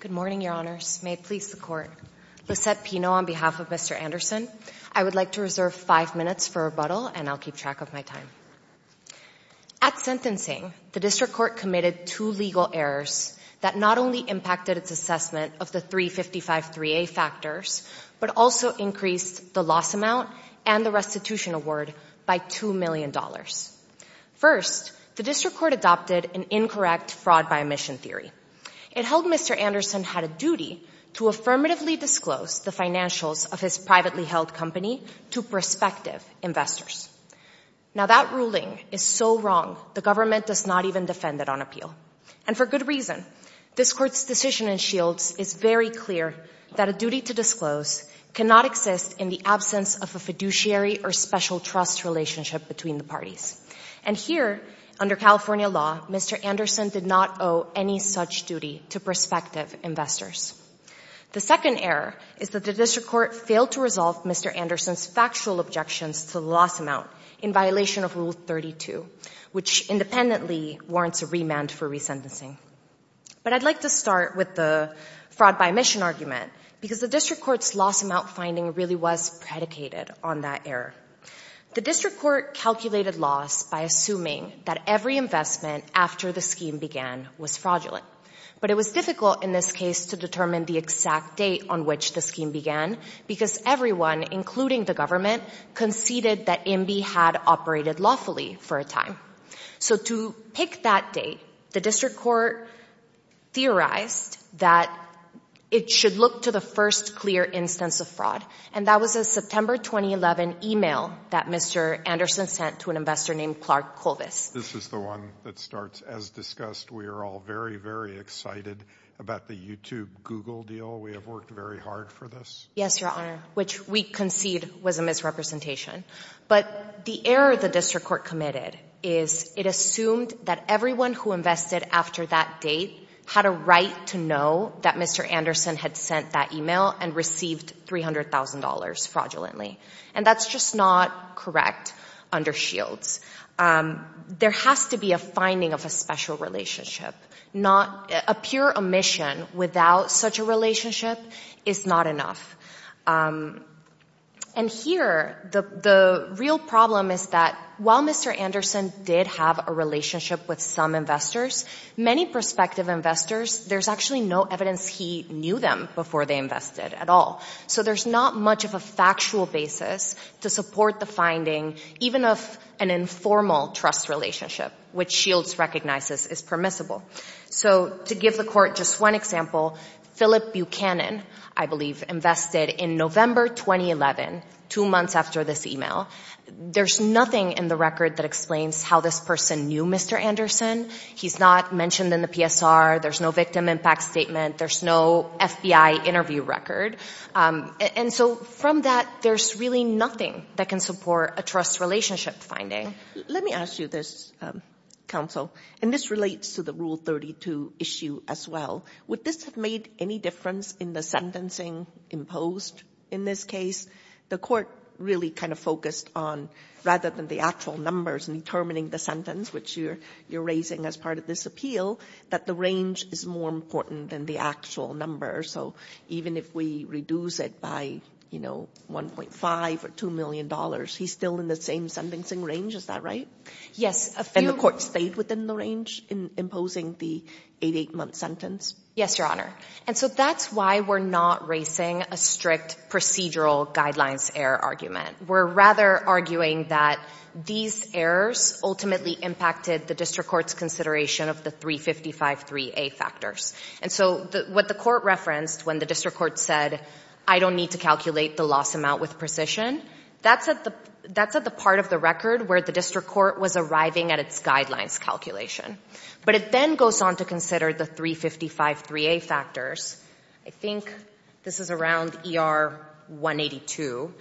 Good morning, your honors. May it please the court. Lisette Pino on behalf of Mr. Anderson. I would like to reserve five minutes for rebuttal and I'll keep track of my time. At sentencing, the district court committed two legal errors that not only impacted its assessment of the 355 3a factors, but also increased the loss amount and the restitution award by two million dollars. First, the district court adopted an incorrect fraud by omission theory. It held Mr. Anderson had a duty to affirmatively disclose the financials of his privately held company to prospective investors. Now that ruling is so wrong, the government does not even defend it on appeal, and for good reason. This court's decision in Shields is very clear that a duty to disclose cannot exist in the absence of a fiduciary or special trust relationship between the parties. And here, under California law, Mr. Anderson did not owe any such duty to prospective investors. The second error is that the district court failed to resolve Mr. Anderson's factual objections to the loss amount in violation of Rule 32, which independently warrants a remand for resentencing. But I'd like to start with the fraud by omission argument, because the district court's loss amount finding really was predicated on that error. The district court calculated loss by assuming that every investment after the scheme began was fraudulent. But it was difficult in this case to determine the exact date on which the scheme began, because everyone, including the government, conceded that MB had operated lawfully for a time. So to pick that date, the district court theorized that it should look to the first clear instance of fraud, and that was a September 2011 email that Mr. Anderson sent to an investor named Clark Colvis. This is the one that starts, as discussed, we are all very, very excited about the YouTube Google deal. We have worked very hard for this. Yes, Your Honor, which we concede was a misrepresentation. But the error the district court committed is it assumed that everyone who invested after that date had a right to know that Mr. Anderson had sent that email and received $300,000 fraudulently. And that's just not correct under Shields. There has to be a finding of a special relationship. A pure omission without such a relationship is not enough. And here, the real problem is that while Mr. Anderson did have a relationship with some investors, many prospective investors, there's actually no evidence he knew them before they invested at all. So there's not much of a factual basis to support the finding, even of an informal trust relationship, which Shields recognizes is permissible. So to give the court just one example, Philip Buchanan, I believe, invested in November 2011, two months after this email. There's nothing in the record that explains how this person knew Mr. Anderson. He's not mentioned in the PSR. There's no victim impact statement. There's no FBI interview record. And so from that, there's really nothing that can support a trust relationship finding. Let me ask you this, counsel, and this relates to the Rule 32 issue as well. Would this have made any difference in the sentencing imposed in this case? The court really kind of focused on, rather than the actual numbers and determining the sentence, which you're raising as part of this appeal, that the range is more important than the actual number. So even if we reduce it by, you know, $1.5 or $2 million, he's still in the same sentencing range. Is that right? Yes. And the court stayed within the range in imposing the 88-month sentence? Yes, Your Honor. And so that's why we're not racing a strict procedural guidelines error argument. We're rather arguing that these errors ultimately impacted the district court's consideration of the 355-3A factors. And so what the court referenced when the district court said, I don't need to calculate the loss amount with precision, that's at the part of the record where the district court was arriving at its guidelines calculation. But it then goes on to consider the 355-3A factors. I think this is around ER 182.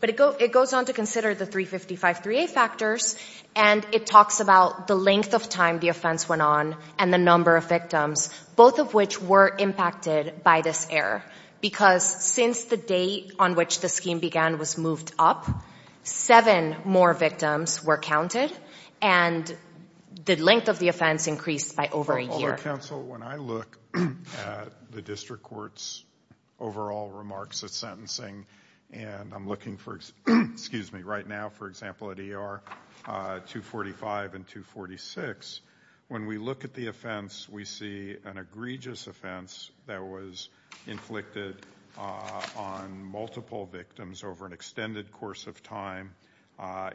But it goes on to consider the 355-3A factors and it talks about the length of time the offense went on and the number of victims, both of which were impacted by this error. Because since the date on which the scheme began was moved up, seven more victims were counted and the length of the offense increased by over a year. Counsel, when I look at the district court's overall remarks at sentencing and I'm looking for, excuse me, right now for example at ER 245 and 246, when we look at the offense, we see an egregious offense that was inflicted on multiple victims over an extended course of time.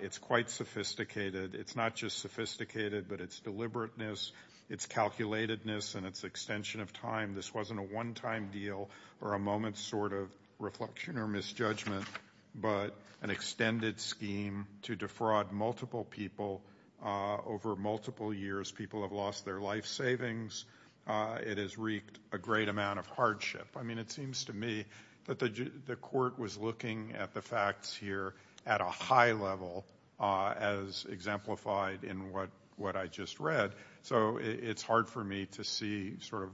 It's quite sophisticated. It's not just sophisticated, but it's deliberateness, it's calculatedness, and it's extension of time. This wasn't a one-time deal or a moment's sort of reflection or misjudgment, but an extended scheme to defraud multiple people over multiple years. People have lost their life savings. It has wreaked a great amount of hardship. I mean, it seems to me that the court was looking at the facts here at a high level as exemplified in what I just read, so it's hard for me to see sort of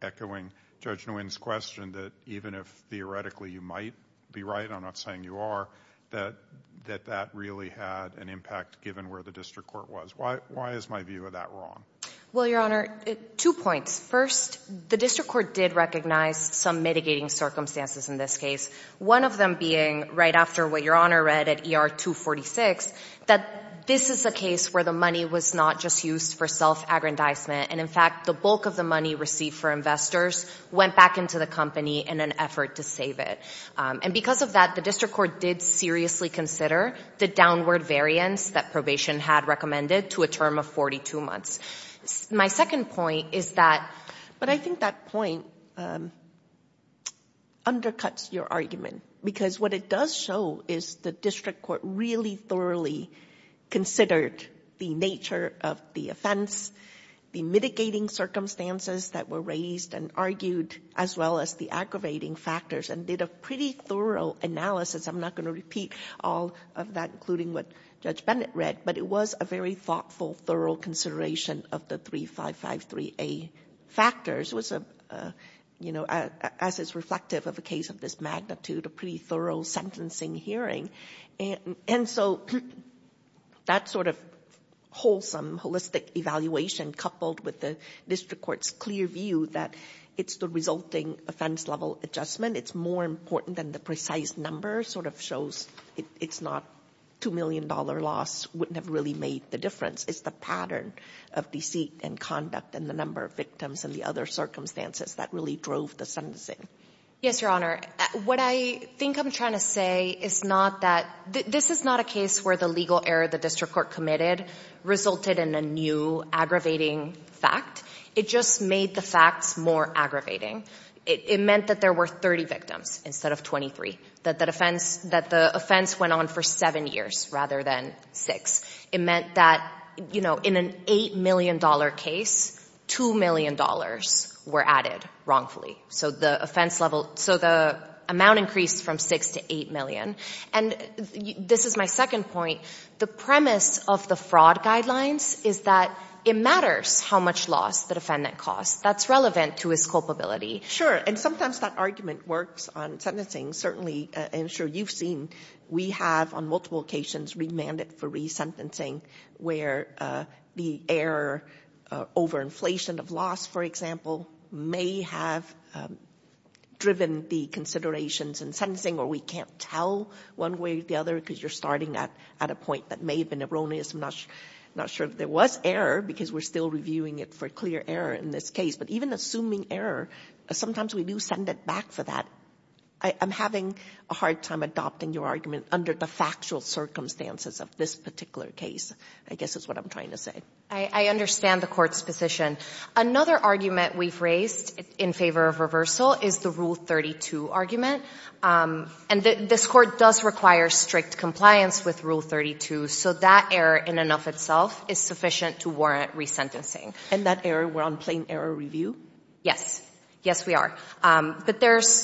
echoing Judge Nguyen's question that even if theoretically you might be right, I'm not saying you are, that that really had an impact given where the district court was. Why is my view of that wrong? Well, Your Honor, two points. First, the district court did recognize some mitigating circumstances in this case, one of them being right after what Your Honor read at ER 246, that this is a case where the money was not just used for self-aggrandizement, and in fact the bulk of the money received for investors went back into the company in an effort to save it. And because of that, the district court did seriously consider the downward variance that probation had recommended to a term of 42 months. My second point is that, but I think that point undercuts your argument, because what it does show is the district court really thoroughly considered the nature of the offense, the mitigating circumstances that were raised and argued, as well as the aggravating factors, and did a pretty thorough analysis. I'm not going to repeat all of that, including what Judge Bennett read, but it was a very thoughtful, thorough consideration of the 3553A factors, as is reflective of a case of this magnitude, a pretty thorough sentencing hearing. And so, that sort of wholesome, holistic evaluation coupled with the district court's clear view that it's the resulting offense level adjustment, it's more important than the precise number, sort of shows it's not two million dollar loss wouldn't have really made the difference. It's the pattern of deceit and conduct and the number of victims and the other circumstances that really drove the sentencing. Yes, Your Honor, what I think I'm trying to say is not that, this is not a case where the legal error the district court committed resulted in a new aggravating fact. It just made the facts more aggravating. It meant that there were 30 victims instead of 23. That the offense went on for seven years rather than six. It meant that, you know, in an eight million dollar case, two million dollars were added wrongfully. So the offense level, so the amount increased from six to eight million. And this is my second point, the premise of the fraud guidelines is that it matters how much loss the defendant costs. That's relevant to his culpability. Sure, and sometimes that argument works on sentencing. Certainly, I'm sure you've seen, we have on multiple occasions remanded for resentencing where the error over inflation of loss, for example, may have driven the considerations in sentencing or we can't tell one way or the other because you're starting at a point that may have been erroneous. I'm not sure if there was error because we're still reviewing it for clear error in this case. But even assuming error, sometimes we do send it back for that. I am having a hard time adopting your argument under the factual circumstances of this particular case, I guess is what I'm trying to say. I understand the court's position. Another argument we've raised in favor of reversal is the Rule 32 argument. And this court does require strict compliance with Rule 32, so that error in and of itself is sufficient to warrant resentencing. And that error we're on plain error review? Yes, yes we are. But there's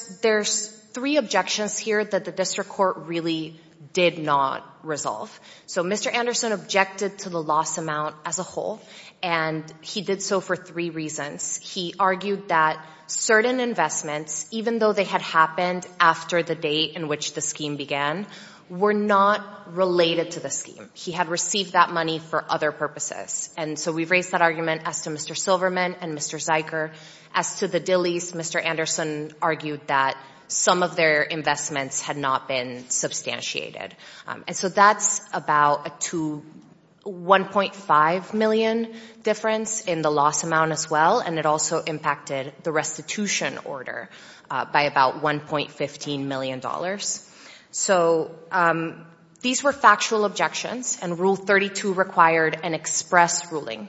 three objections here that the district court really did not resolve. So Mr. Anderson objected to the loss amount as a whole and he did so for three reasons. He argued that certain investments, even though they had happened after the date in which the scheme began, were not related to the scheme. He had received that money for other purposes. And so we've raised that argument as to Mr. Silverman and Mr. Ziker. As to the Dillies, Mr. Anderson argued that some of their investments had not been substantiated. And so that's about a 1.5 million difference in the loss amount as well, and it also impacted the restitution order by about $1.15 million. So these were factual objections and Rule 32 required an express ruling.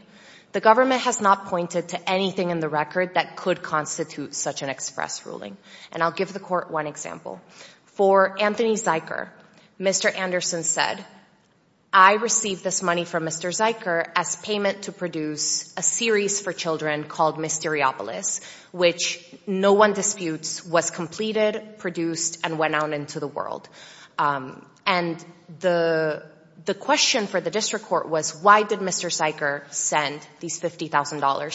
The government has not pointed to anything in the record that could constitute such an express ruling. And I'll give the court one example. For Anthony Ziker, Mr. Anderson said, I received this money from Mr. Ziker as payment to produce a series for children called Mysteriopolis, which no one went out into the world. And the question for the district court was, why did Mr. Ziker send these $50,000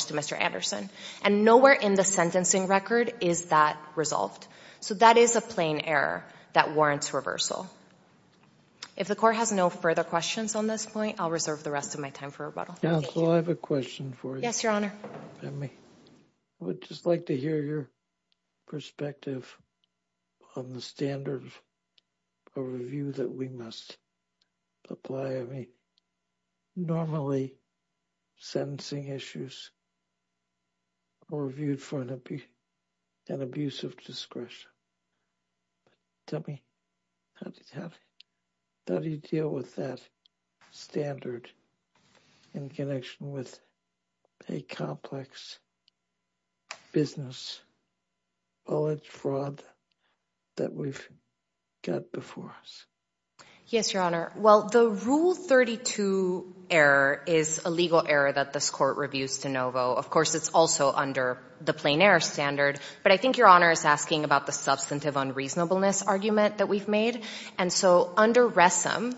to Mr. Anderson? And nowhere in the sentencing record is that resolved. So that is a plain error that warrants reversal. If the court has no further questions on this point, I'll reserve the rest of my time for rebuttal. Counsel, I have a question for you. Yes, Your Honor. I would just like to hear your perspective on the standard of review that we must apply. I mean, normally sentencing issues are reviewed for an abuse of discretion. Tell me, how do you deal with that standard in connection with a complex business knowledge fraud that we've got before us? Yes, Your Honor. Well, the Rule 32 error is a legal error that this court reviews de novo. Of course, it's also under the plain error standard. But I think Your Honor is asking about the substantive unreasonableness argument that we've made. And so under RESM,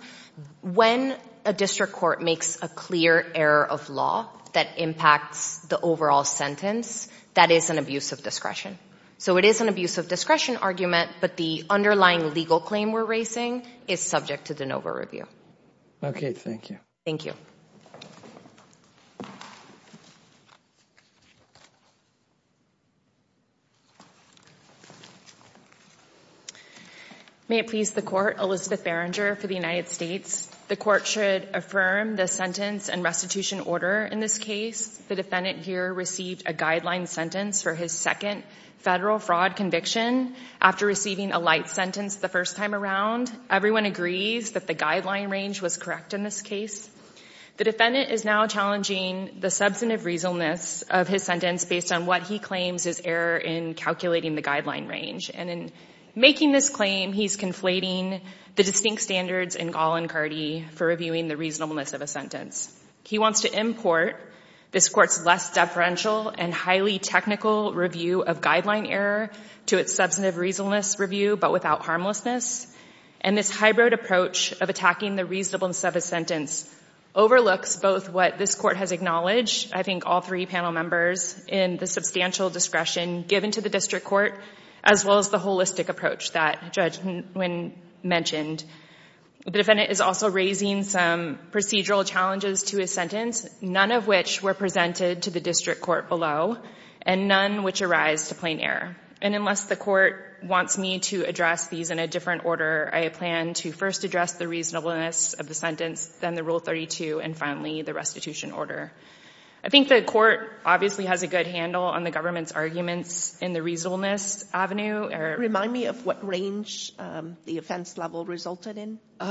when a district court makes a clear error of law that impacts the overall sentence, that is an abuse of discretion. So it is an abuse of discretion argument, but the underlying legal claim we're raising is subject to de novo review. Okay, thank you. Thank you. May it please the Court, Elizabeth Berenger for the United States. The court should affirm the sentence and restitution order in this case. The defendant here received a guideline sentence for his second federal fraud conviction after receiving a light sentence the first time around. Everyone agrees that the guideline range was correct in this case. The defendant is now challenging the substantive reasonableness of his sentence based on what he claims is error in calculating the guideline range. And in making this claim, he's conflating the distinct standards in Gall and Cardee for reviewing the reasonableness of a sentence. He wants to import this court's less deferential and highly technical review of guideline error to its substantive reasonableness review, but without harmlessness. And this hybrid approach of attacking the reasonableness of a sentence overlooks both what this court has acknowledged, I think all three panel members, in the substantial discretion given to the district court, as well as the holistic approach that Judge Nguyen mentioned. The defendant is also raising some procedural challenges to his sentence, none of which were presented to the district court below, and none which arise to plain error. And unless the court wants me to address these in a different order, I plan to first address the reasonableness of the sentence, then the Rule 32, and finally the restitution order. I think the court obviously has a good handle on the government's arguments in the reasonableness avenue. Remind me of what range the offense level resulted in. He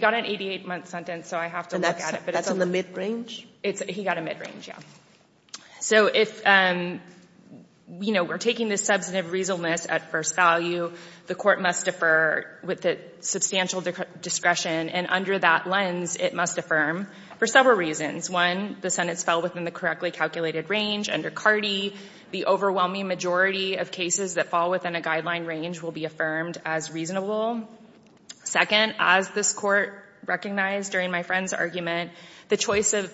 got an 88-month sentence, so I have to look at it. And that's on the mid-range? He got a mid-range, yeah. So if we're taking the substantive reasonableness at first value, the court must defer with the substantial discretion, and under that lens, it must affirm for several reasons. One, the sentence fell within the correctly calculated range under CARDI. The overwhelming majority of cases that fall within a guideline range will be affirmed as reasonable. Second, as this court recognized during my friend's argument, the choice of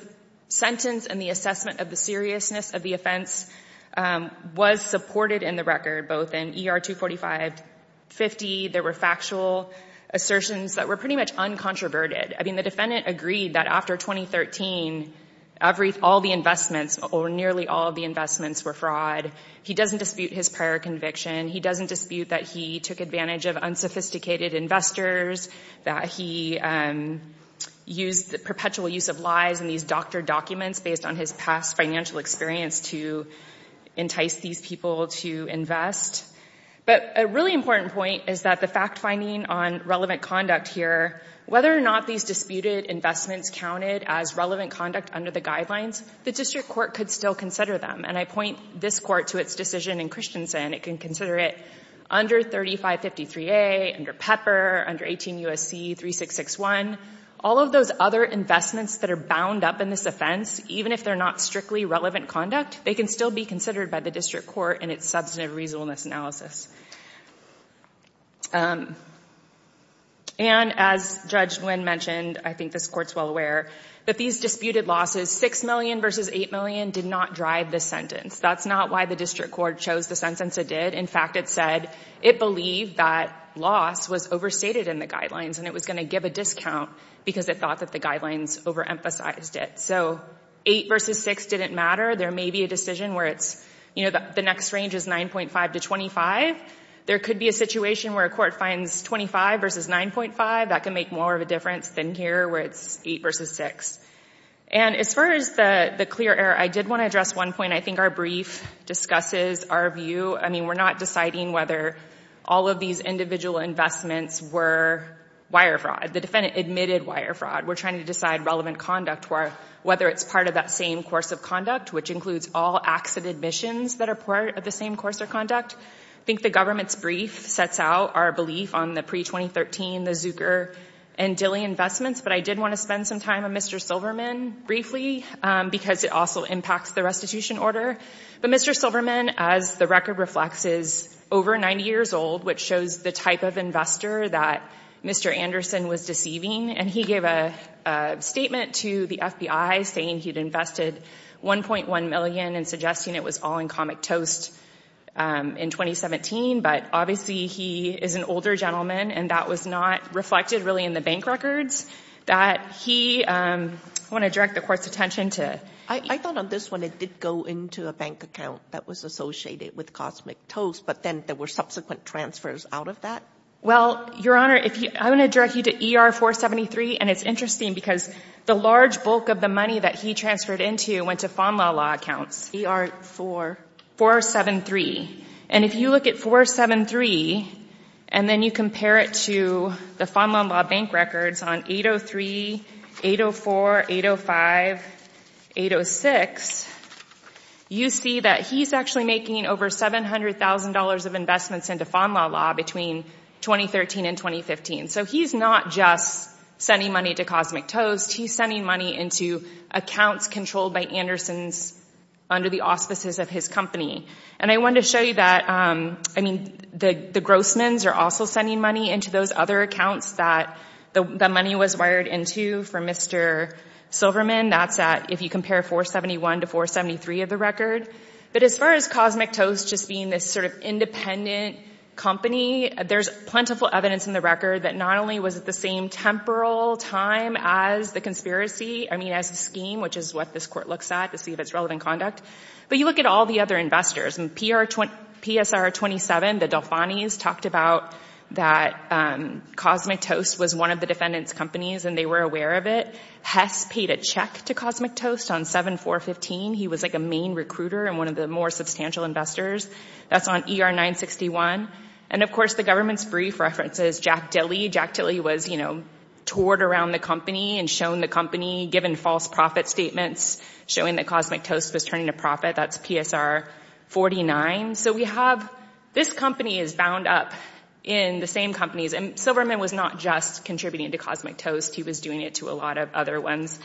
sentence and the assessment of the seriousness of the offense was supported in the record, both in ER 245-50, there were factual assertions that were pretty much uncontroverted. I mean, the defendant agreed that after 2013, all the investments, or nearly all of the investments, were fraud. He doesn't dispute his prior conviction. He doesn't dispute that he took advantage of unsophisticated investors, that he used the perpetual use of lies in these doctored documents based on his past financial experience to entice these people to invest. But a really important point is that the fact-finding on relevant conduct here, whether or not these disputed investments counted as relevant conduct under the guidelines, the district court could still consider them. And I point this court to its decision in Christensen. It can consider it under 3553A, under Pepper, under 18 U.S.C. 3661. All of those other investments that are bound up in this offense, even if they're not strictly relevant conduct, they can still be considered by the district court in its substantive reasonableness analysis. And as Judge Nguyen mentioned, I think this court's well aware, that these disputed losses, 6 million versus 8 million, did not drive this sentence. That's not why the district court chose the sentence it did. In fact, it said it believed that loss was overstated in the guidelines, and it was going to give a discount because it thought that the guidelines overemphasized it. So 8 versus 6 didn't matter. There may be a decision where it's, you know, the next range is 9.5 to 25. There could be a situation where a court finds 25 versus 9.5. That can make more of a difference than here, where it's 8 versus 6. And as far as the clear error, I did want to address one point. I think our brief discusses our view. I mean, we're not deciding whether all of these individual investments were wire fraud. The government's brief sets out our belief on the pre-2013, the Zucker and Dilley investments, but I did want to spend some time on Mr. Silverman, briefly, because it also impacts the restitution order. But Mr. Silverman, as the record reflects, is over 90 years old, which shows the type of investor that Mr. Anderson was deceiving, and he gave a very clear example of the type of investor that he was. He gave a statement to the FBI saying he'd invested $1.1 million and suggesting it was all in Cosmic Toast in 2017. But obviously, he is an older gentleman, and that was not reflected, really, in the bank records. I want to direct the court's attention to... I thought on this one, it did go into a bank account that was associated with Cosmic Toast, but then there were subsequent transfers out of that? Well, Your Honor, I want to direct you to ER-473, and it's interesting because the large bulk of the money that he transferred into went to FONLAW Law accounts. ER-473. And if you look at 473, and then you compare it to the FONLAW Law bank records on 803, 804, 805, 806, you see that he's actually making over $700,000 of investments into FONLAW Law between 2013 and 2015. So he's not just sending money to Cosmic Toast, he's sending money into accounts controlled by Andersons under the auspices of his company. And I want to show you that, I mean, the Grossmans are also sending money into those other accounts that the money was wired into for Mr. Silverman. That's at, if you compare 471 to 473 of the record. But as far as Cosmic Toast just being this sort of independent company, there's plentiful evidence in the record that not only was it the same temporal time as the conspiracy, I mean, as a scheme, which is what this court looks at to see if it's relevant conduct, but you look at all the other investors. And PSR-27, the Delfanis, talked about that Cosmic Toast was one of the defendant's companies and they were aware of it. Hess paid a check to Cosmic Toast on 7-4-15. He was like a main recruiter and one of the more substantial investors. That's on ER-961. And of course, the government's brief references Jack Dilley. Jack Dilley was, you know, toured around the company and shown the company, given false profit statements, showing that Cosmic Toast was turning a profit. That's PSR-49. So we have, this company is bound up in the same companies. And Silverman was not just contributing to Cosmic Toast, he was doing it to a lot of other ones.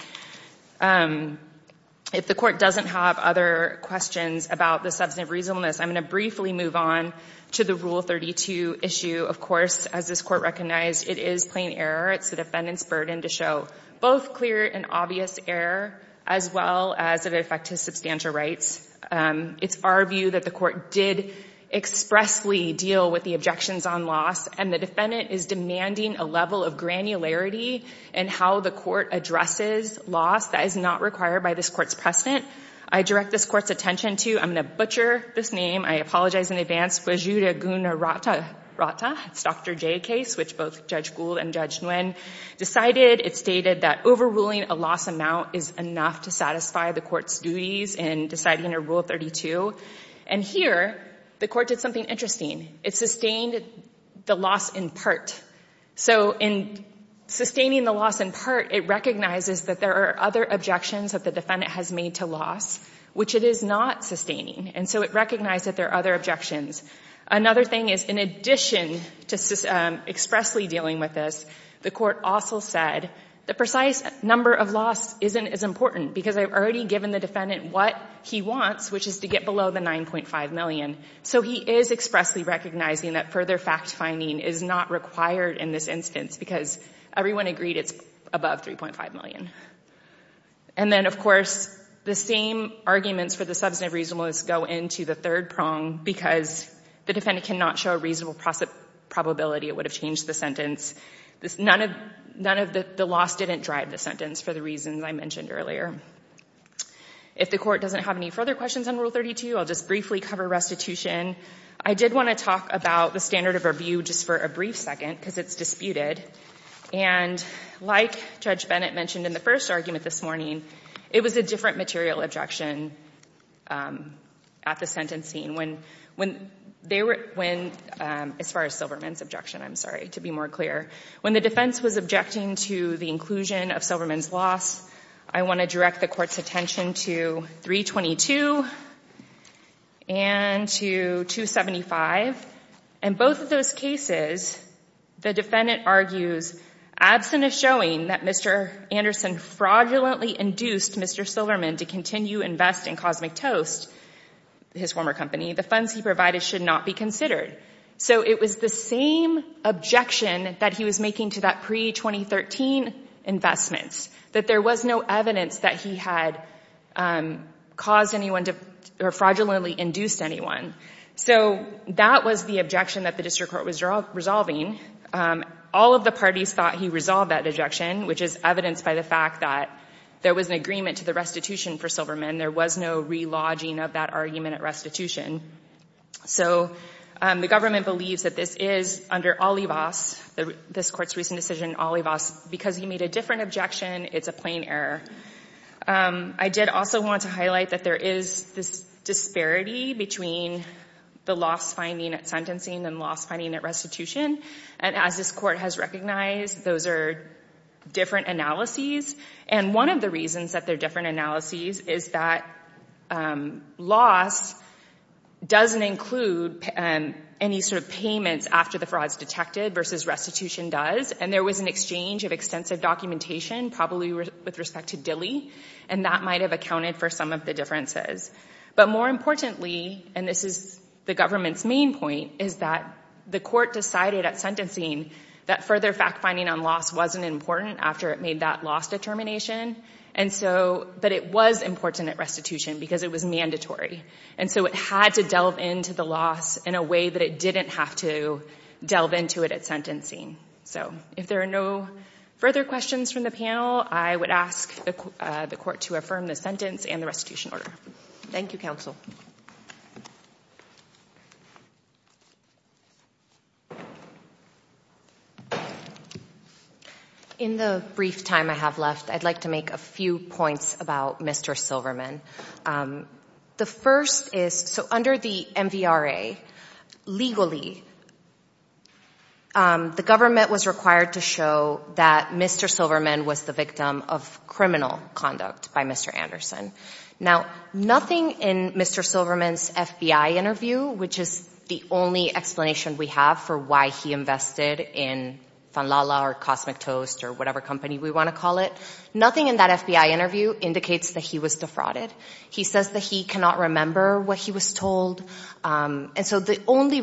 If the court doesn't have other questions about the substantive reasonableness, I'm going to briefly move on to the Rule 32 issue. Of course, as this court recognized, it is plain error. It's the defendant's burden to show both clear and obvious error, as well as it affects his substantial rights. It's our view that the court did expressly deal with the objections on loss and the defendant is demanding a level of granularity in how the court addresses loss that is not required by this court's precedent. I direct this court's attention to, I'm going to butcher this name, I apologize in advance, Guajira Guna Rata, it's Dr. J case, which both Judge Gould and Judge Nguyen decided. It stated that overruling a loss amount is enough to satisfy the court's duties in deciding a Rule 32. And here, the court did something interesting. It sustained the loss in part. So in sustaining the loss in part, it recognizes that there are other objections that the defendant has made to loss, which it is not sustaining. And so it recognized that there are other objections. Another thing is, in addition to expressly dealing with this, the court also said the precise number of loss isn't as important because I've already given the defendant what he wants, which is to get below the $9.5 million. So he is expressly recognizing that further fact-finding is not required in this instance because everyone agreed it's above $3.5 million. And then, of course, the same arguments for the substantive reasonableness go into the third prong because the defendant cannot show a reasonable probability it would have changed the sentence. None of the loss didn't drive the sentence for the reasons I mentioned earlier. If the court doesn't have any further questions on Rule 32, I'll just briefly cover restitution. I did want to talk about the standard of review just for a brief second because it's disputed. And like Judge Bennett mentioned in the first argument this morning, it was a different material objection at the sentencing when they were — as far as Silverman's objection, I'm sorry, to be more clear. When the defense was objecting to the inclusion of Silverman's loss, I want to direct the court's attention to 322 and to 275. In both of those cases, the defendant argues, absent of showing that Mr. Anderson fraudulently induced Mr. Silverman to continue to invest in Cosmic Toast, his former company, the funds he provided should not be considered. So it was the same objection that he was making to that pre-2013 investments, that there was no evidence that he had caused anyone to — or fraudulently induced anyone. So that was the objection that the district court was resolving. All of the parties thought he resolved that objection, which is evidenced by the fact that there was an agreement to the restitution for Silverman. There was no relodging of that argument at restitution. So the government believes that this is, under Olivas, this court's recent decision, Olivas, because he made a different objection, it's a plain error. I did also want to highlight that there is this disparity between the loss finding at sentencing and loss finding at restitution. And as this court has recognized, those are different analyses. And one of the reasons that they're different analyses is that loss doesn't include any sort of payments after the fraud is detected versus restitution does. And there was an exchange of extensive documentation, probably with respect to Dilley, and that might have accounted for some of the differences. But more importantly, and this is the government's main point, is that the court decided at sentencing that further fact-finding on loss wasn't important after it made that loss determination. And so, but it was important at restitution because it was mandatory. And so it had to delve into the loss in a way that it didn't have to delve into it at sentencing. So if there are no further questions from the panel, I would ask the court to affirm the sentence and the restitution order. Thank you, counsel. In the brief time I have left, I'd like to make a few points about Mr. Silverman. The first is, so under the MVRA, legally, the government was required to show that Mr. Silverman was the victim of criminal conduct by Mr. Anderson. Now, nothing in Mr. Silverman's FBI interview, which is the only explanation we have for why he invested in Funlala or Cosmic Toast or whatever company we want to call it, nothing in that FBI interview indicates that he was defrauded. He says that he cannot remember what he was told. And so the only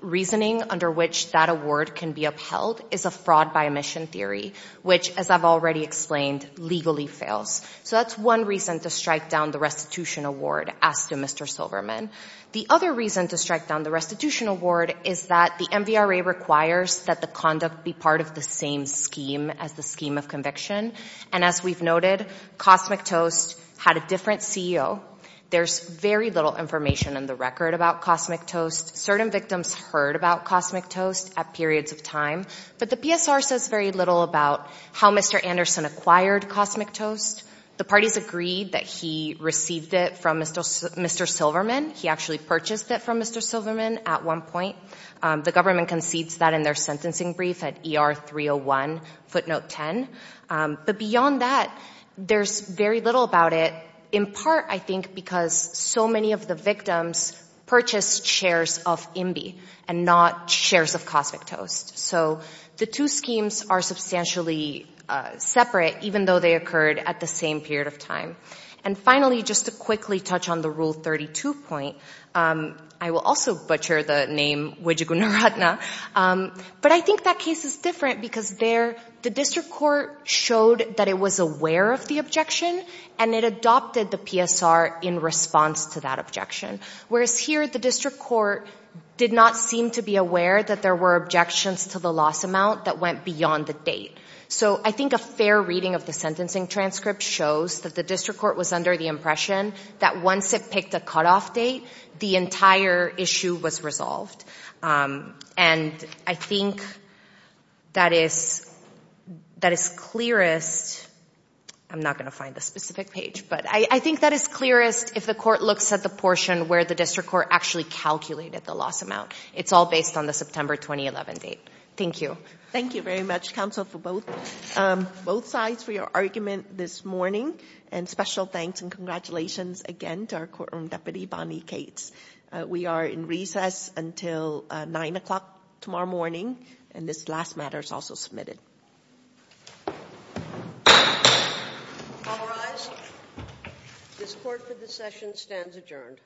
reasoning under which that award can be upheld is a fraud by omission theory, which, as I've already explained, legally fails. So that's one reason to strike down the restitution award, as to Mr. Silverman. The other reason to strike down the restitution award is that the MVRA requires that the conduct be part of the same scheme as the scheme of conviction. And as we've noted, Cosmic Toast had a different CEO. There's very little information in the record about Cosmic Toast. Certain victims heard about Cosmic Toast at periods of time, but the PSR says very little about how Mr. Anderson acquired Cosmic Toast. The parties agreed that he received it from Mr. Silverman. He actually purchased it from Mr. Silverman at one point. The government concedes that in their sentencing brief at ER 301, footnote 10. But beyond that, there's very little about it, in part, I think, because so many of the victims purchased shares of MBIE and not shares of Cosmic Toast. So they were essentially separate, even though they occurred at the same period of time. And finally, just to quickly touch on the Rule 32 point, I will also butcher the name Wejigunaratna. But I think that case is different, because there, the district court showed that it was aware of the objection, and it adopted the PSR in response to that objection. Whereas here, the district court did not seem to be aware that there were objections to the loss amount that went beyond the date. So I think a fair reading of the sentencing transcript shows that the district court was under the impression that once it picked a cutoff date, the entire issue was resolved. And I think that is clearest, I'm not going to find the specific page, but I think that is clearest if the court looks at the portion where the district court actually calculated the loss Thank you. Thank you very much, counsel, for both sides for your argument this morning. And special thanks and congratulations again to our Courtroom Deputy, Bonnie Cates. We are in recess until 9 o'clock tomorrow morning, and this last matter is also submitted. All rise. This court for this session stands adjourned.